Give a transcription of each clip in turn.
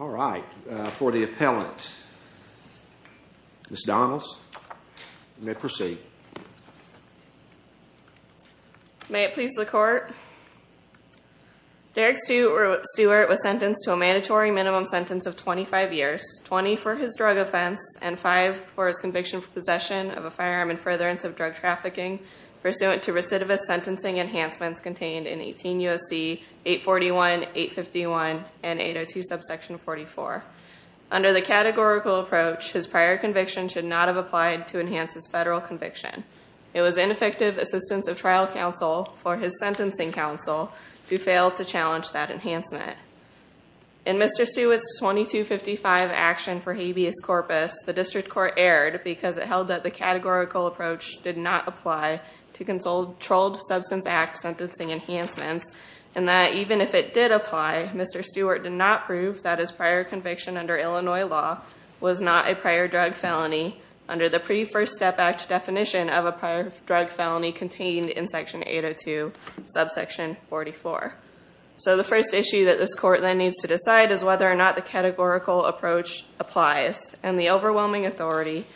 All right, for the appellant, Ms. Donalds, you may proceed. May it please the court. Derrick Stewart was sentenced to a mandatory minimum sentence of 25 years, 20 for his drug offense, and 5 for his conviction for possession of a firearm and furtherance of drug trafficking pursuant to recidivist sentencing enhancements contained in 18 U.S.C. 841, 851, and 802 subsection 44. Under the categorical approach, his prior conviction should not have applied to enhance his federal conviction. It was ineffective assistance of trial counsel for his sentencing counsel who failed to challenge that enhancement. In Mr. Stewart's 2255 action for habeas corpus, the district court erred because it held that the categorical approach did not apply to controlled substance act sentencing enhancements, and that even if it did apply, Mr. Stewart did not prove that his prior conviction under Illinois law was not a prior drug felony under the Pre-First Step Act definition of a prior drug felony contained in section 802 subsection 44. So the first issue that this court then needs to decide is whether or not the categorical approach applies, and the overwhelming authority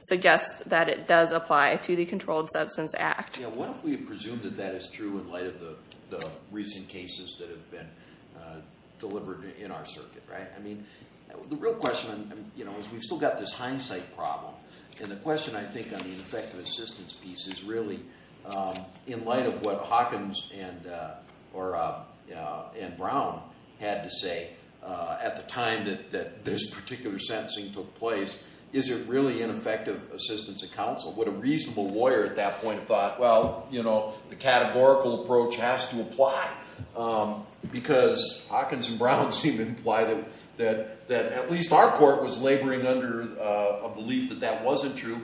suggests that it does apply to the Controlled Substance Act. Yeah, what if we presume that that is true in light of the recent cases that have been delivered in our circuit, right? I mean, the real question, you know, is we've still got this hindsight problem, and the question I think on the ineffective assistance piece is really in light of what Hawkins and Brown had to say at the time that this particular sentencing took place. Is it really ineffective assistance of counsel? Would a reasonable lawyer at that point have thought, well, you know, the categorical approach has to apply, because Hawkins and Brown seem to imply that at least our court was laboring under a belief that that wasn't true,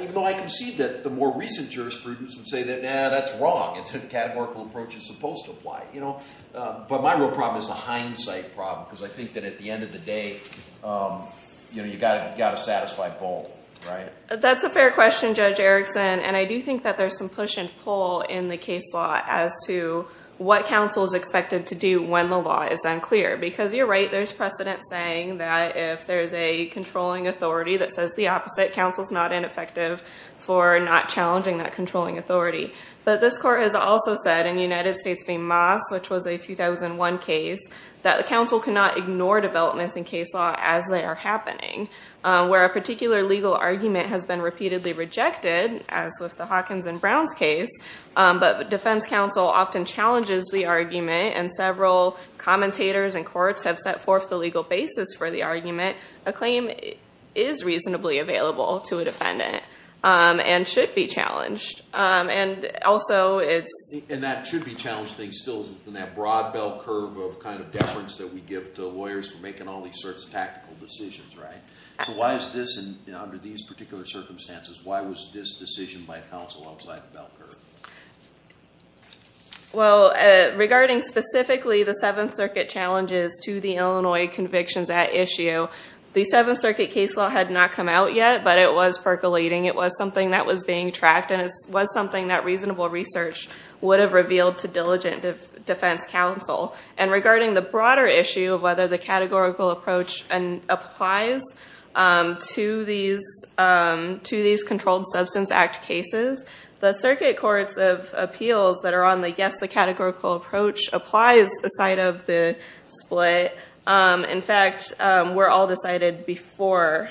even though I can see that the more recent jurisprudence would say that, nah, that's wrong. It's a categorical approach that's supposed to apply, you know? But my real problem is the hindsight problem, because I think that at the end of the day, you know, you've got to satisfy both, right? That's a fair question, Judge Erickson, and I do think that there's some push and pull in the case law as to what counsel is expected to do when the law is unclear. Because you're right, there's precedent saying that if there's a controlling authority that says the opposite, counsel's not ineffective for not challenging that controlling authority. But this court has also said in the United States v. Moss, which was a 2001 case, that counsel cannot ignore developments in case law as they are happening. Where a particular legal argument has been repeatedly rejected, as with the Hawkins and Browns case, but defense counsel often challenges the argument and several commentators and courts have set forth the legal basis for the argument, a claim is reasonably available to a defendant and should be challenged. And also it's... And that should be challenged, I think, still in that broad bell curve of kind of deference that we give to lawyers for making all these sorts of tactical decisions, right? So why is this, under these particular circumstances, why was this decision by counsel outside the bell curve? Well, regarding specifically the Seventh Circuit challenges to the Illinois convictions at issue, the Seventh Circuit case law had not come out yet, but it was percolating. It was something that was being tracked and it was something that reasonable research would have revealed to diligent defense counsel. And regarding the broader issue of whether the categorical approach applies to these Controlled Substance Act cases, the circuit courts of appeals that are on the, yes, the categorical approach, applies aside of the split. In fact, were all decided before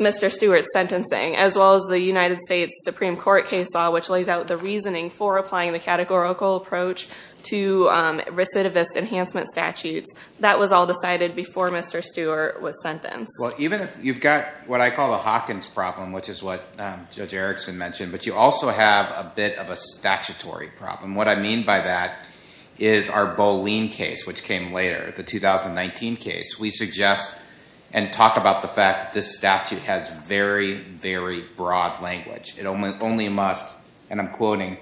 Mr. Stewart's sentencing, as well as the United States Supreme Court case law, which lays out the reasoning for applying the categorical approach to recidivist enhancement statutes. That was all decided before Mr. Stewart was sentenced. Well, even if you've got what I call the Hawkins problem, which is what Judge Erickson mentioned, but you also have a bit of a statutory problem. And what I mean by that is our Boline case, which came later, the 2019 case. We suggest and talk about the fact that this statute has very, very broad language. It only must, and I'm quoting,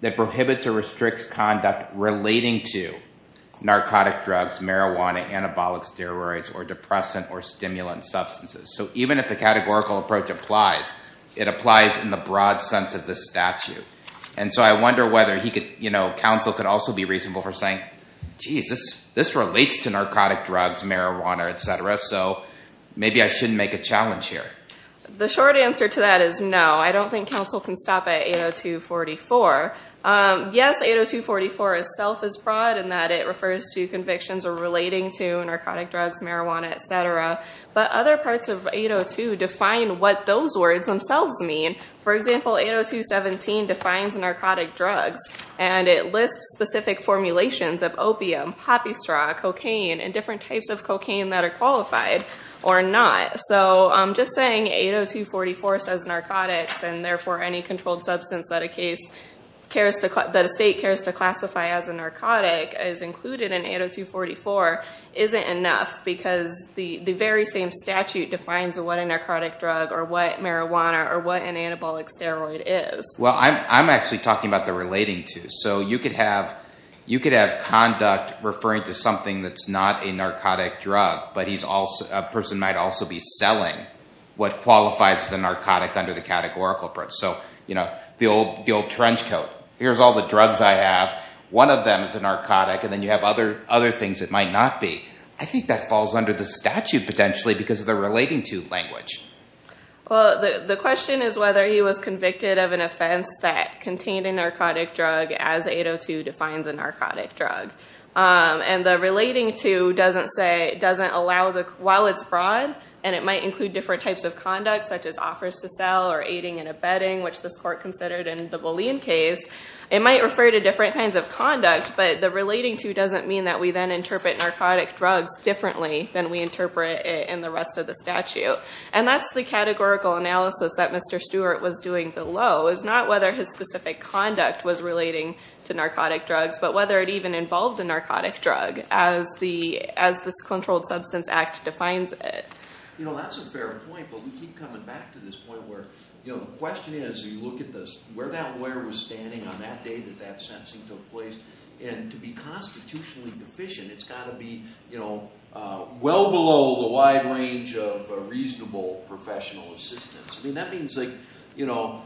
that prohibits or restricts conduct relating to narcotic drugs, marijuana, anabolic steroids, or depressant or stimulant substances. So even if the categorical approach applies, it applies in the broad sense of the statute. And so I wonder whether he could, you know, counsel could also be reasonable for saying, geez, this relates to narcotic drugs, marijuana, etc. So maybe I shouldn't make a challenge here. The short answer to that is no. I don't think counsel can stop at 802.44. Yes, 802.44 itself is broad in that it refers to convictions relating to narcotic drugs, marijuana, etc. But other parts of 802 define what those words themselves mean. For example, 802.17 defines narcotic drugs. And it lists specific formulations of opium, poppy straw, cocaine, and different types of cocaine that are qualified or not. So just saying 802.44 says narcotics and therefore any controlled substance that a state cares to classify as a narcotic is included in 802.44 isn't enough because the very same statute defines what a narcotic drug or what marijuana or what an anabolic steroid is. Well, I'm actually talking about the relating to. So you could have conduct referring to something that's not a narcotic drug, but a person might also be selling what qualifies as a narcotic under the categorical approach. So, you know, the old trench coat. Here's all the drugs I have. One of them is a narcotic, and then you have other things that might not be. I think that falls under the statute potentially because of the relating to language. Well, the question is whether he was convicted of an offense that contained a narcotic drug as 802 defines a narcotic drug. And the relating to doesn't allow, while it's broad and it might include different types of conduct such as offers to sell or aiding and abetting, which this court considered in the Boleyn case, it might refer to different kinds of conduct. But the relating to doesn't mean that we then interpret narcotic drugs differently than we interpret it in the rest of the statute. And that's the categorical analysis that Mr. Stewart was doing below, is not whether his specific conduct was relating to narcotic drugs, but whether it even involved a narcotic drug as this Controlled Substance Act defines it. You know, that's a fair point, but we keep coming back to this point where, you know, the question is, you look at this, where that lawyer was standing on that day that that sentencing took place. And to be constitutionally deficient, it's got to be, you know, well below the wide range of reasonable professional assistance. I mean, that means, like, you know,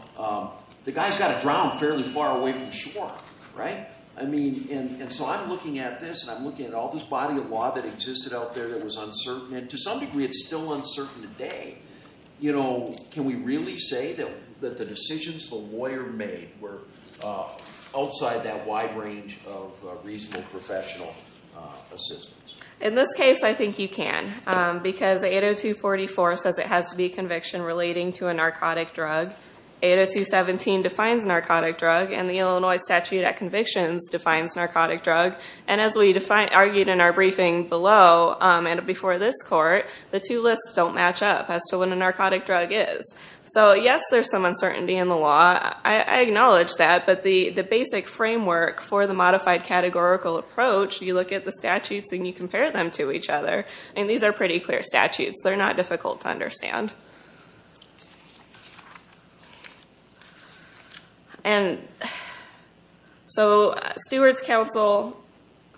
the guy's got to drown fairly far away from shore, right? I mean, and so I'm looking at this, and I'm looking at all this body of law that existed out there that was uncertain, and to some degree it's still uncertain today. You know, can we really say that the decisions the lawyer made were outside that wide range of reasonable professional assistance? In this case, I think you can, because 802.44 says it has to be a conviction relating to a narcotic drug. 802.17 defines narcotic drug, and the Illinois statute at convictions defines narcotic drug. And as we argued in our briefing below and before this court, the two lists don't match up as to what a narcotic drug is. So yes, there's some uncertainty in the law. I acknowledge that, but the basic framework for the modified categorical approach, you look at the statutes and you compare them to each other, and these are pretty clear statutes. They're not difficult to understand. And so Stewart's counsel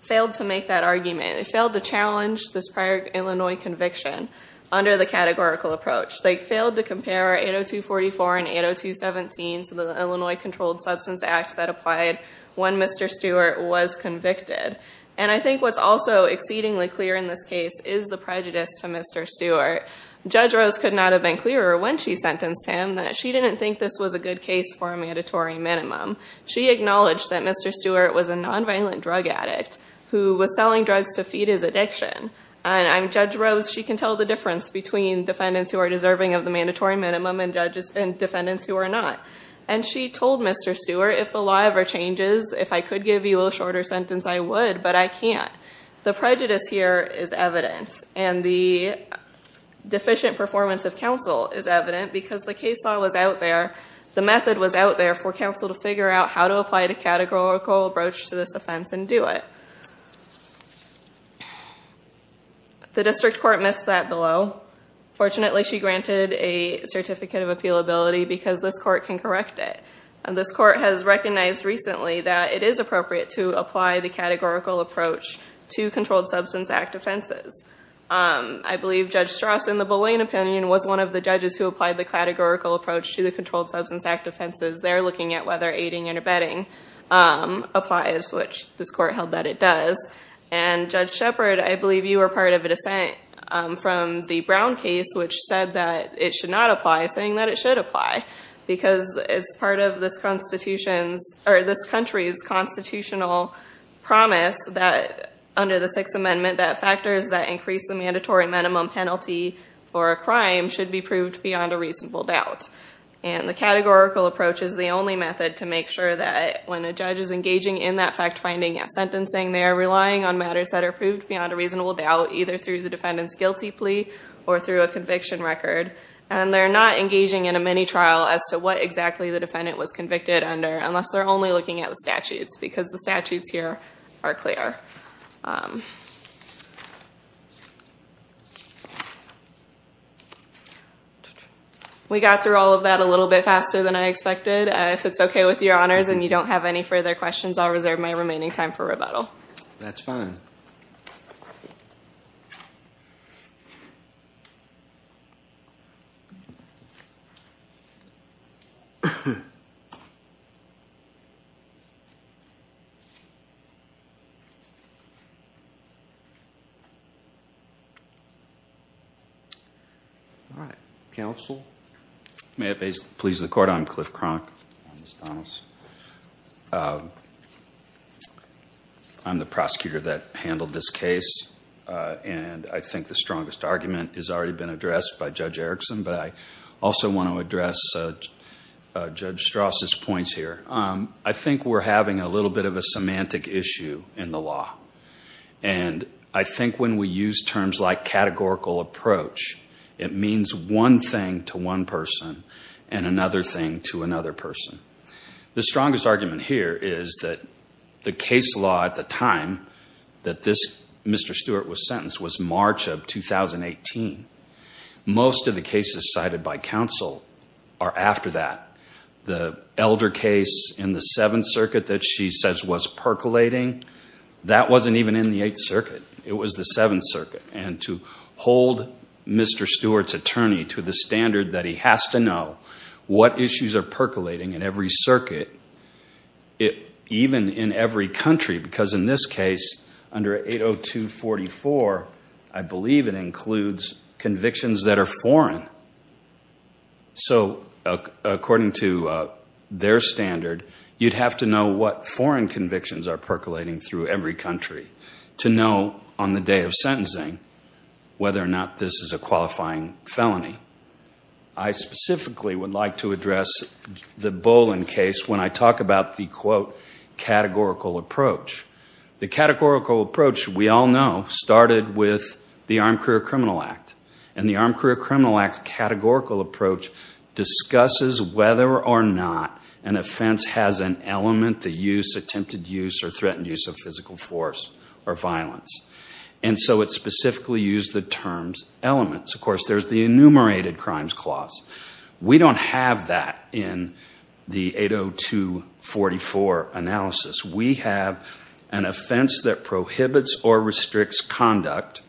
failed to make that argument. They failed to challenge this prior Illinois conviction under the categorical approach. They failed to compare 802.44 and 802.17 to the Illinois Controlled Substance Act that applied when Mr. Stewart was convicted. And I think what's also exceedingly clear in this case is the prejudice to Mr. Stewart. Judge Rose could not have been clearer when she sentenced him that she didn't think this was a good case for a mandatory minimum. She acknowledged that Mr. Stewart was a nonviolent drug addict who was selling drugs to feed his addiction. And Judge Rose, she can tell the difference between defendants who are deserving of the mandatory minimum and defendants who are not. And she told Mr. Stewart, if the law ever changes, if I could give you a shorter sentence, I would, but I can't. The prejudice here is evident, and the deficient performance of counsel is evident because the case law was out there. The method was out there for counsel to figure out how to apply the categorical approach to this offense and do it. The district court missed that below. Fortunately, she granted a certificate of appealability because this court can correct it. And this court has recognized recently that it is appropriate to apply the categorical approach to Controlled Substance Act offenses. I believe Judge Strauss, in the Boleyn opinion, was one of the judges who applied the categorical approach to the Controlled Substance Act offenses. They're looking at whether aiding and abetting applies, which this court held that it does. And Judge Shepard, I believe you were part of a dissent from the Brown case, which said that it should not apply, saying that it should apply. Because it's part of this country's constitutional promise that, under the Sixth Amendment, that factors that increase the mandatory minimum penalty for a crime should be proved beyond a reasonable doubt. And the categorical approach is the only method to make sure that when a judge is engaging in that fact-finding sentencing, they are relying on matters that are proved beyond a reasonable doubt, either through the defendant's guilty plea or through a conviction record. And they're not engaging in a mini-trial as to what exactly the defendant was convicted under, unless they're only looking at the statutes, because the statutes here are clear. We got through all of that a little bit faster than I expected. If it's OK with your honors and you don't have any further questions, I'll reserve my remaining time for rebuttal. That's fine. All right. Counsel? May it please the Court, I'm Cliff Cronk. I'm the prosecutor that handled this case. And I think the strongest argument has already been addressed by Judge Erickson, but I also want to address Judge Strauss's points here. I think we're having a little bit of a semantic issue in the law. And I think when we use terms like categorical approach, it means one thing to one person and another thing to another person. The strongest argument here is that the case law at the time that this Mr. Stewart was sentenced was March of 2018. Most of the cases cited by counsel are after that. The elder case in the Seventh Circuit that she says was percolating, that wasn't even in the Eighth Circuit. It was the Seventh Circuit. And to hold Mr. Stewart's attorney to the standard that he has to know what issues are percolating in every circuit, even in every country. Because in this case, under 802.44, I believe it includes convictions that are foreign. So according to their standard, you'd have to know what foreign convictions are percolating through every country. To know on the day of sentencing whether or not this is a qualifying felony. I specifically would like to address the Bolin case when I talk about the quote, categorical approach. The categorical approach, we all know, started with the Armed Career Criminal Act. And the Armed Career Criminal Act categorical approach discusses whether or not an offense has an element to use, attempted use, or threatened use of physical force or violence. And so it specifically used the terms elements. Of course, there's the enumerated crimes clause. We don't have that in the 802.44 analysis. We have an offense that prohibits or restricts conduct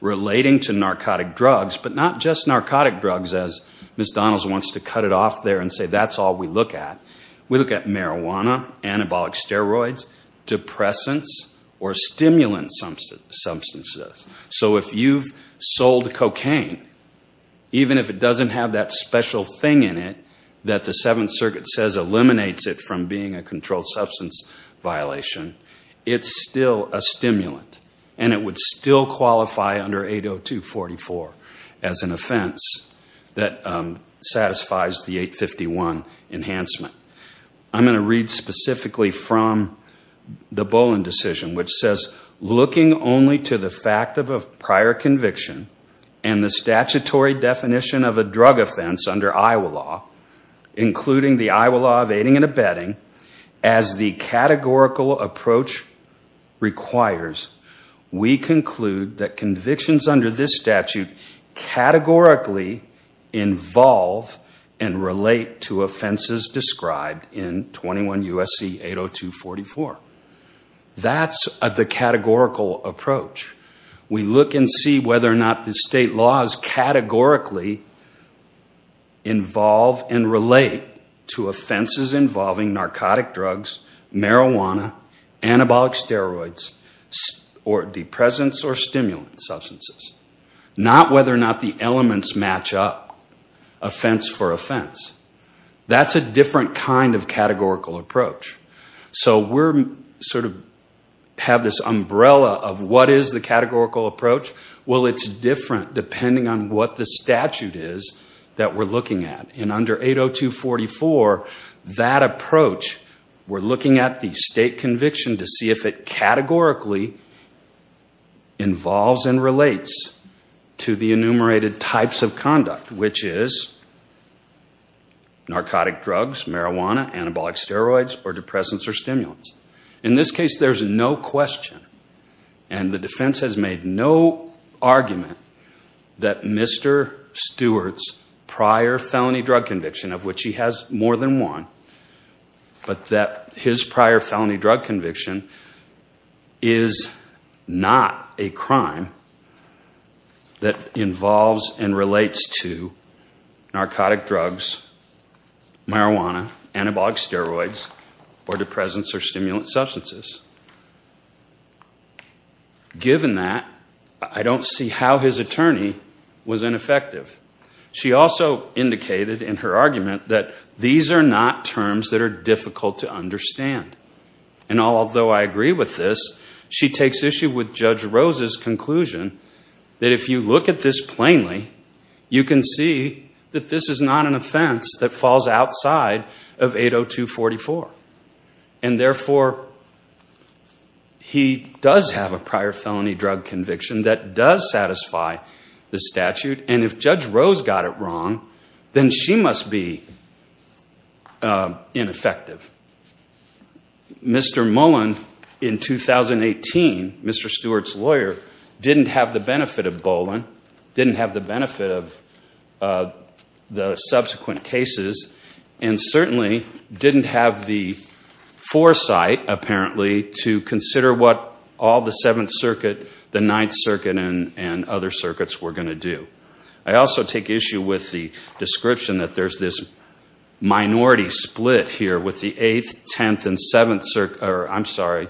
relating to narcotic drugs. But not just narcotic drugs, as Ms. Donalds wants to cut it off there and say that's all we look at. We look at marijuana, anabolic steroids, depressants, or stimulant substances. So if you've sold cocaine, even if it doesn't have that special thing in it that the Seventh Circuit says eliminates it from being a controlled substance violation, it's still a stimulant. And it would still qualify under 802.44 as an offense that satisfies the 851 enhancement. I'm going to read specifically from the Boland decision which says, Looking only to the fact of a prior conviction and the statutory definition of a drug offense under Iowa law, including the Iowa law of aiding and abetting, as the categorical approach requires, we conclude that convictions under this statute categorically involve and relate to offenses described in 21 U.S.C. 802.44. That's the categorical approach. We look and see whether or not the state laws categorically involve and relate to offenses involving narcotic drugs, marijuana, anabolic steroids, or depressants or stimulant substances. Not whether or not the elements match up, offense for offense. That's a different kind of categorical approach. So we sort of have this umbrella of what is the categorical approach. Well, it's different depending on what the statute is that we're looking at. In under 802.44, that approach, we're looking at the state conviction to see if it categorically involves and relates to the enumerated types of conduct, which is narcotic drugs, marijuana, anabolic steroids, or depressants or stimulants. In this case, there's no question and the defense has made no argument that Mr. Stewart's prior felony drug conviction, of which he has more than one, but that his prior felony drug conviction is not a crime that involves and relates to narcotic drugs, marijuana, anabolic steroids, or depressants or stimulant substances. Given that, I don't see how his attorney was ineffective. She also indicated in her argument that these are not terms that are difficult to understand. And although I agree with this, she takes issue with Judge Rose's conclusion that if you look at this plainly, you can see that this is not an offense that falls outside of 802.44. And therefore, he does have a prior felony drug conviction that does satisfy the statute. And if Judge Rose got it wrong, then she must be ineffective. Mr. Mullen, in 2018, Mr. Stewart's lawyer, didn't have the benefit of Boland, didn't have the benefit of the subsequent cases, and certainly didn't have the foresight, apparently, to consider what all the 7th Circuit, the 9th Circuit, and other circuits were going to do. I also take issue with the description that there's this minority split here with the 8th, 10th, and 7th, I'm sorry,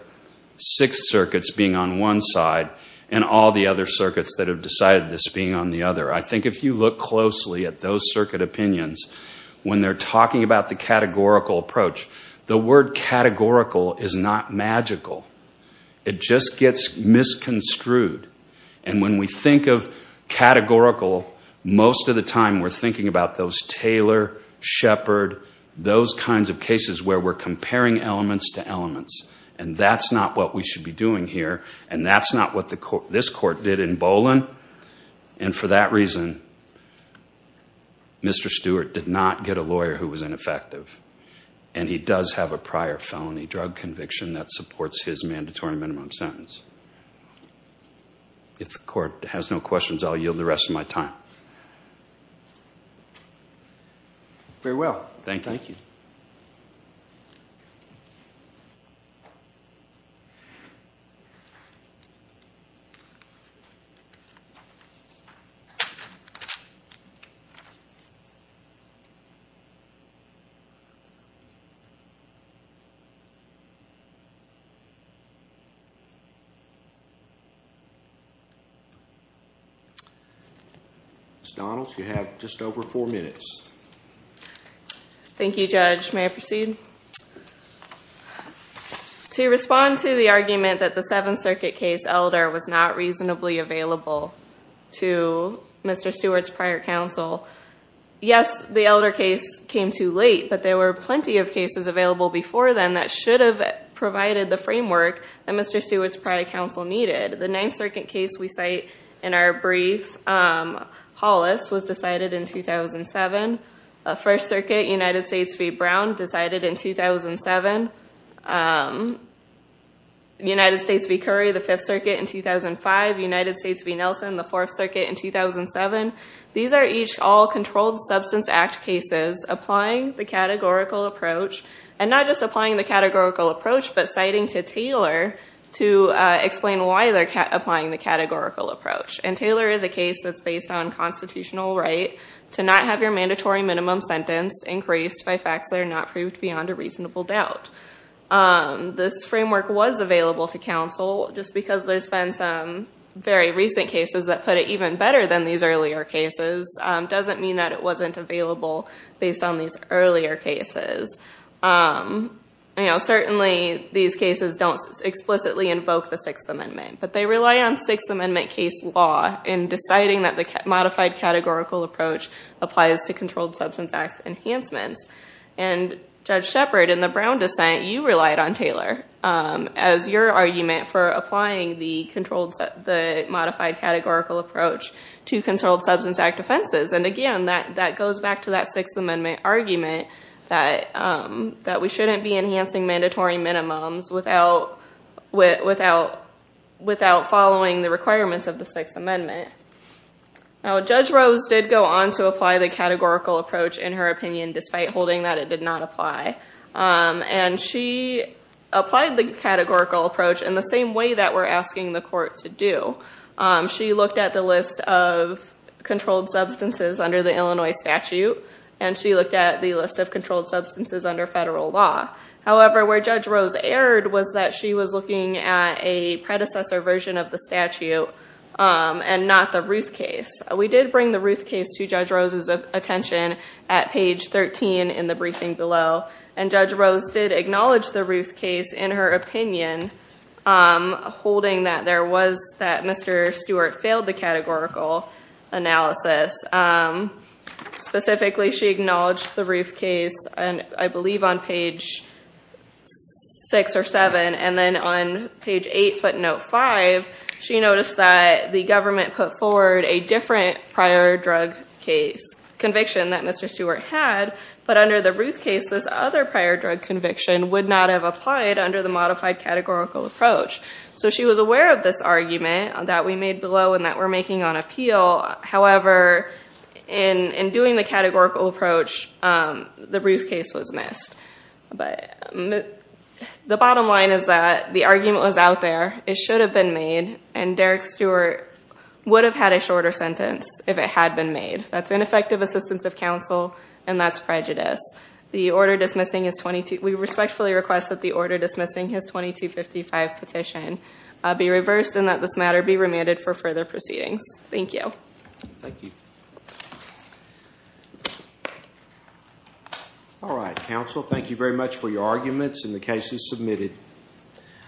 6th Circuits being on one side, and all the other circuits that have decided this being on the other. I think if you look closely at those circuit opinions, when they're talking about the categorical approach, the word categorical is not magical. It just gets misconstrued. And when we think of categorical, most of the time we're thinking about those Taylor, Shepard, those kinds of cases where we're comparing elements to elements. And that's not what we should be doing here, and that's not what this Court did in Boland. And for that reason, Mr. Stewart did not get a lawyer who was ineffective, and he does have a prior felony drug conviction that supports his mandatory minimum sentence. If the Court has no questions, I'll yield the rest of my time. Very well. Thank you. Ms. Donalds, you have just over four minutes. Thank you, Judge. May I proceed? To respond to the argument that the 7th Circuit case elder was not reasonably available to Mr. Stewart's prior counsel, yes, the elder case came too late, but there were plenty of cases available before then that should have provided the framework that Mr. Stewart's prior counsel needed. The 9th Circuit case we cite in our brief, Hollis, was decided in 2007. 1st Circuit, United States v. Brown, decided in 2007. United States v. Curry, the 5th Circuit in 2005. United States v. Nelson, the 4th Circuit in 2007. These are each all Controlled Substance Act cases applying the categorical approach, but citing to Taylor to explain why they're applying the categorical approach. And Taylor is a case that's based on constitutional right to not have your mandatory minimum sentence increased by facts that are not proved beyond a reasonable doubt. This framework was available to counsel. Just because there's been some very recent cases that put it even better than these earlier cases doesn't mean that it wasn't available based on these earlier cases. Certainly, these cases don't explicitly invoke the Sixth Amendment, but they rely on Sixth Amendment case law in deciding that the modified categorical approach applies to Controlled Substance Act enhancements. And Judge Shepard, in the Brown dissent, you relied on Taylor as your argument for applying the modified categorical approach to Controlled Substance Act offenses. And again, that goes back to that Sixth Amendment argument that we shouldn't be enhancing mandatory minimums without following the requirements of the Sixth Amendment. Judge Rose did go on to apply the categorical approach, in her opinion, despite holding that it did not apply. And she applied the categorical approach in the same way that we're asking the court to do. She looked at the list of controlled substances under the Illinois statute. And she looked at the list of controlled substances under federal law. However, where Judge Rose erred was that she was looking at a predecessor version of the statute and not the Ruth case. We did bring the Ruth case to Judge Rose's attention at page 13 in the briefing below. And Judge Rose did acknowledge the Ruth case, in her opinion, holding that Mr. Stewart failed the categorical analysis. Specifically, she acknowledged the Ruth case, I believe, on page 6 or 7. And then on page 8, footnote 5, she noticed that the government put forward a different prior drug conviction that Mr. Stewart had. But under the Ruth case, this other prior drug conviction would not have applied under the modified categorical approach. So she was aware of this argument that we made below and that we're making on appeal. However, in doing the categorical approach, the Ruth case was missed. But the bottom line is that the argument was out there. It should have been made. And Derek Stewart would have had a shorter sentence if it had been made. That's ineffective assistance of counsel, and that's prejudice. We respectfully request that the order dismissing his 2255 petition be reversed and that this matter be remanded for further proceedings. Thank you. Thank you. All right, counsel. Thank you very much for your arguments and the cases submitted.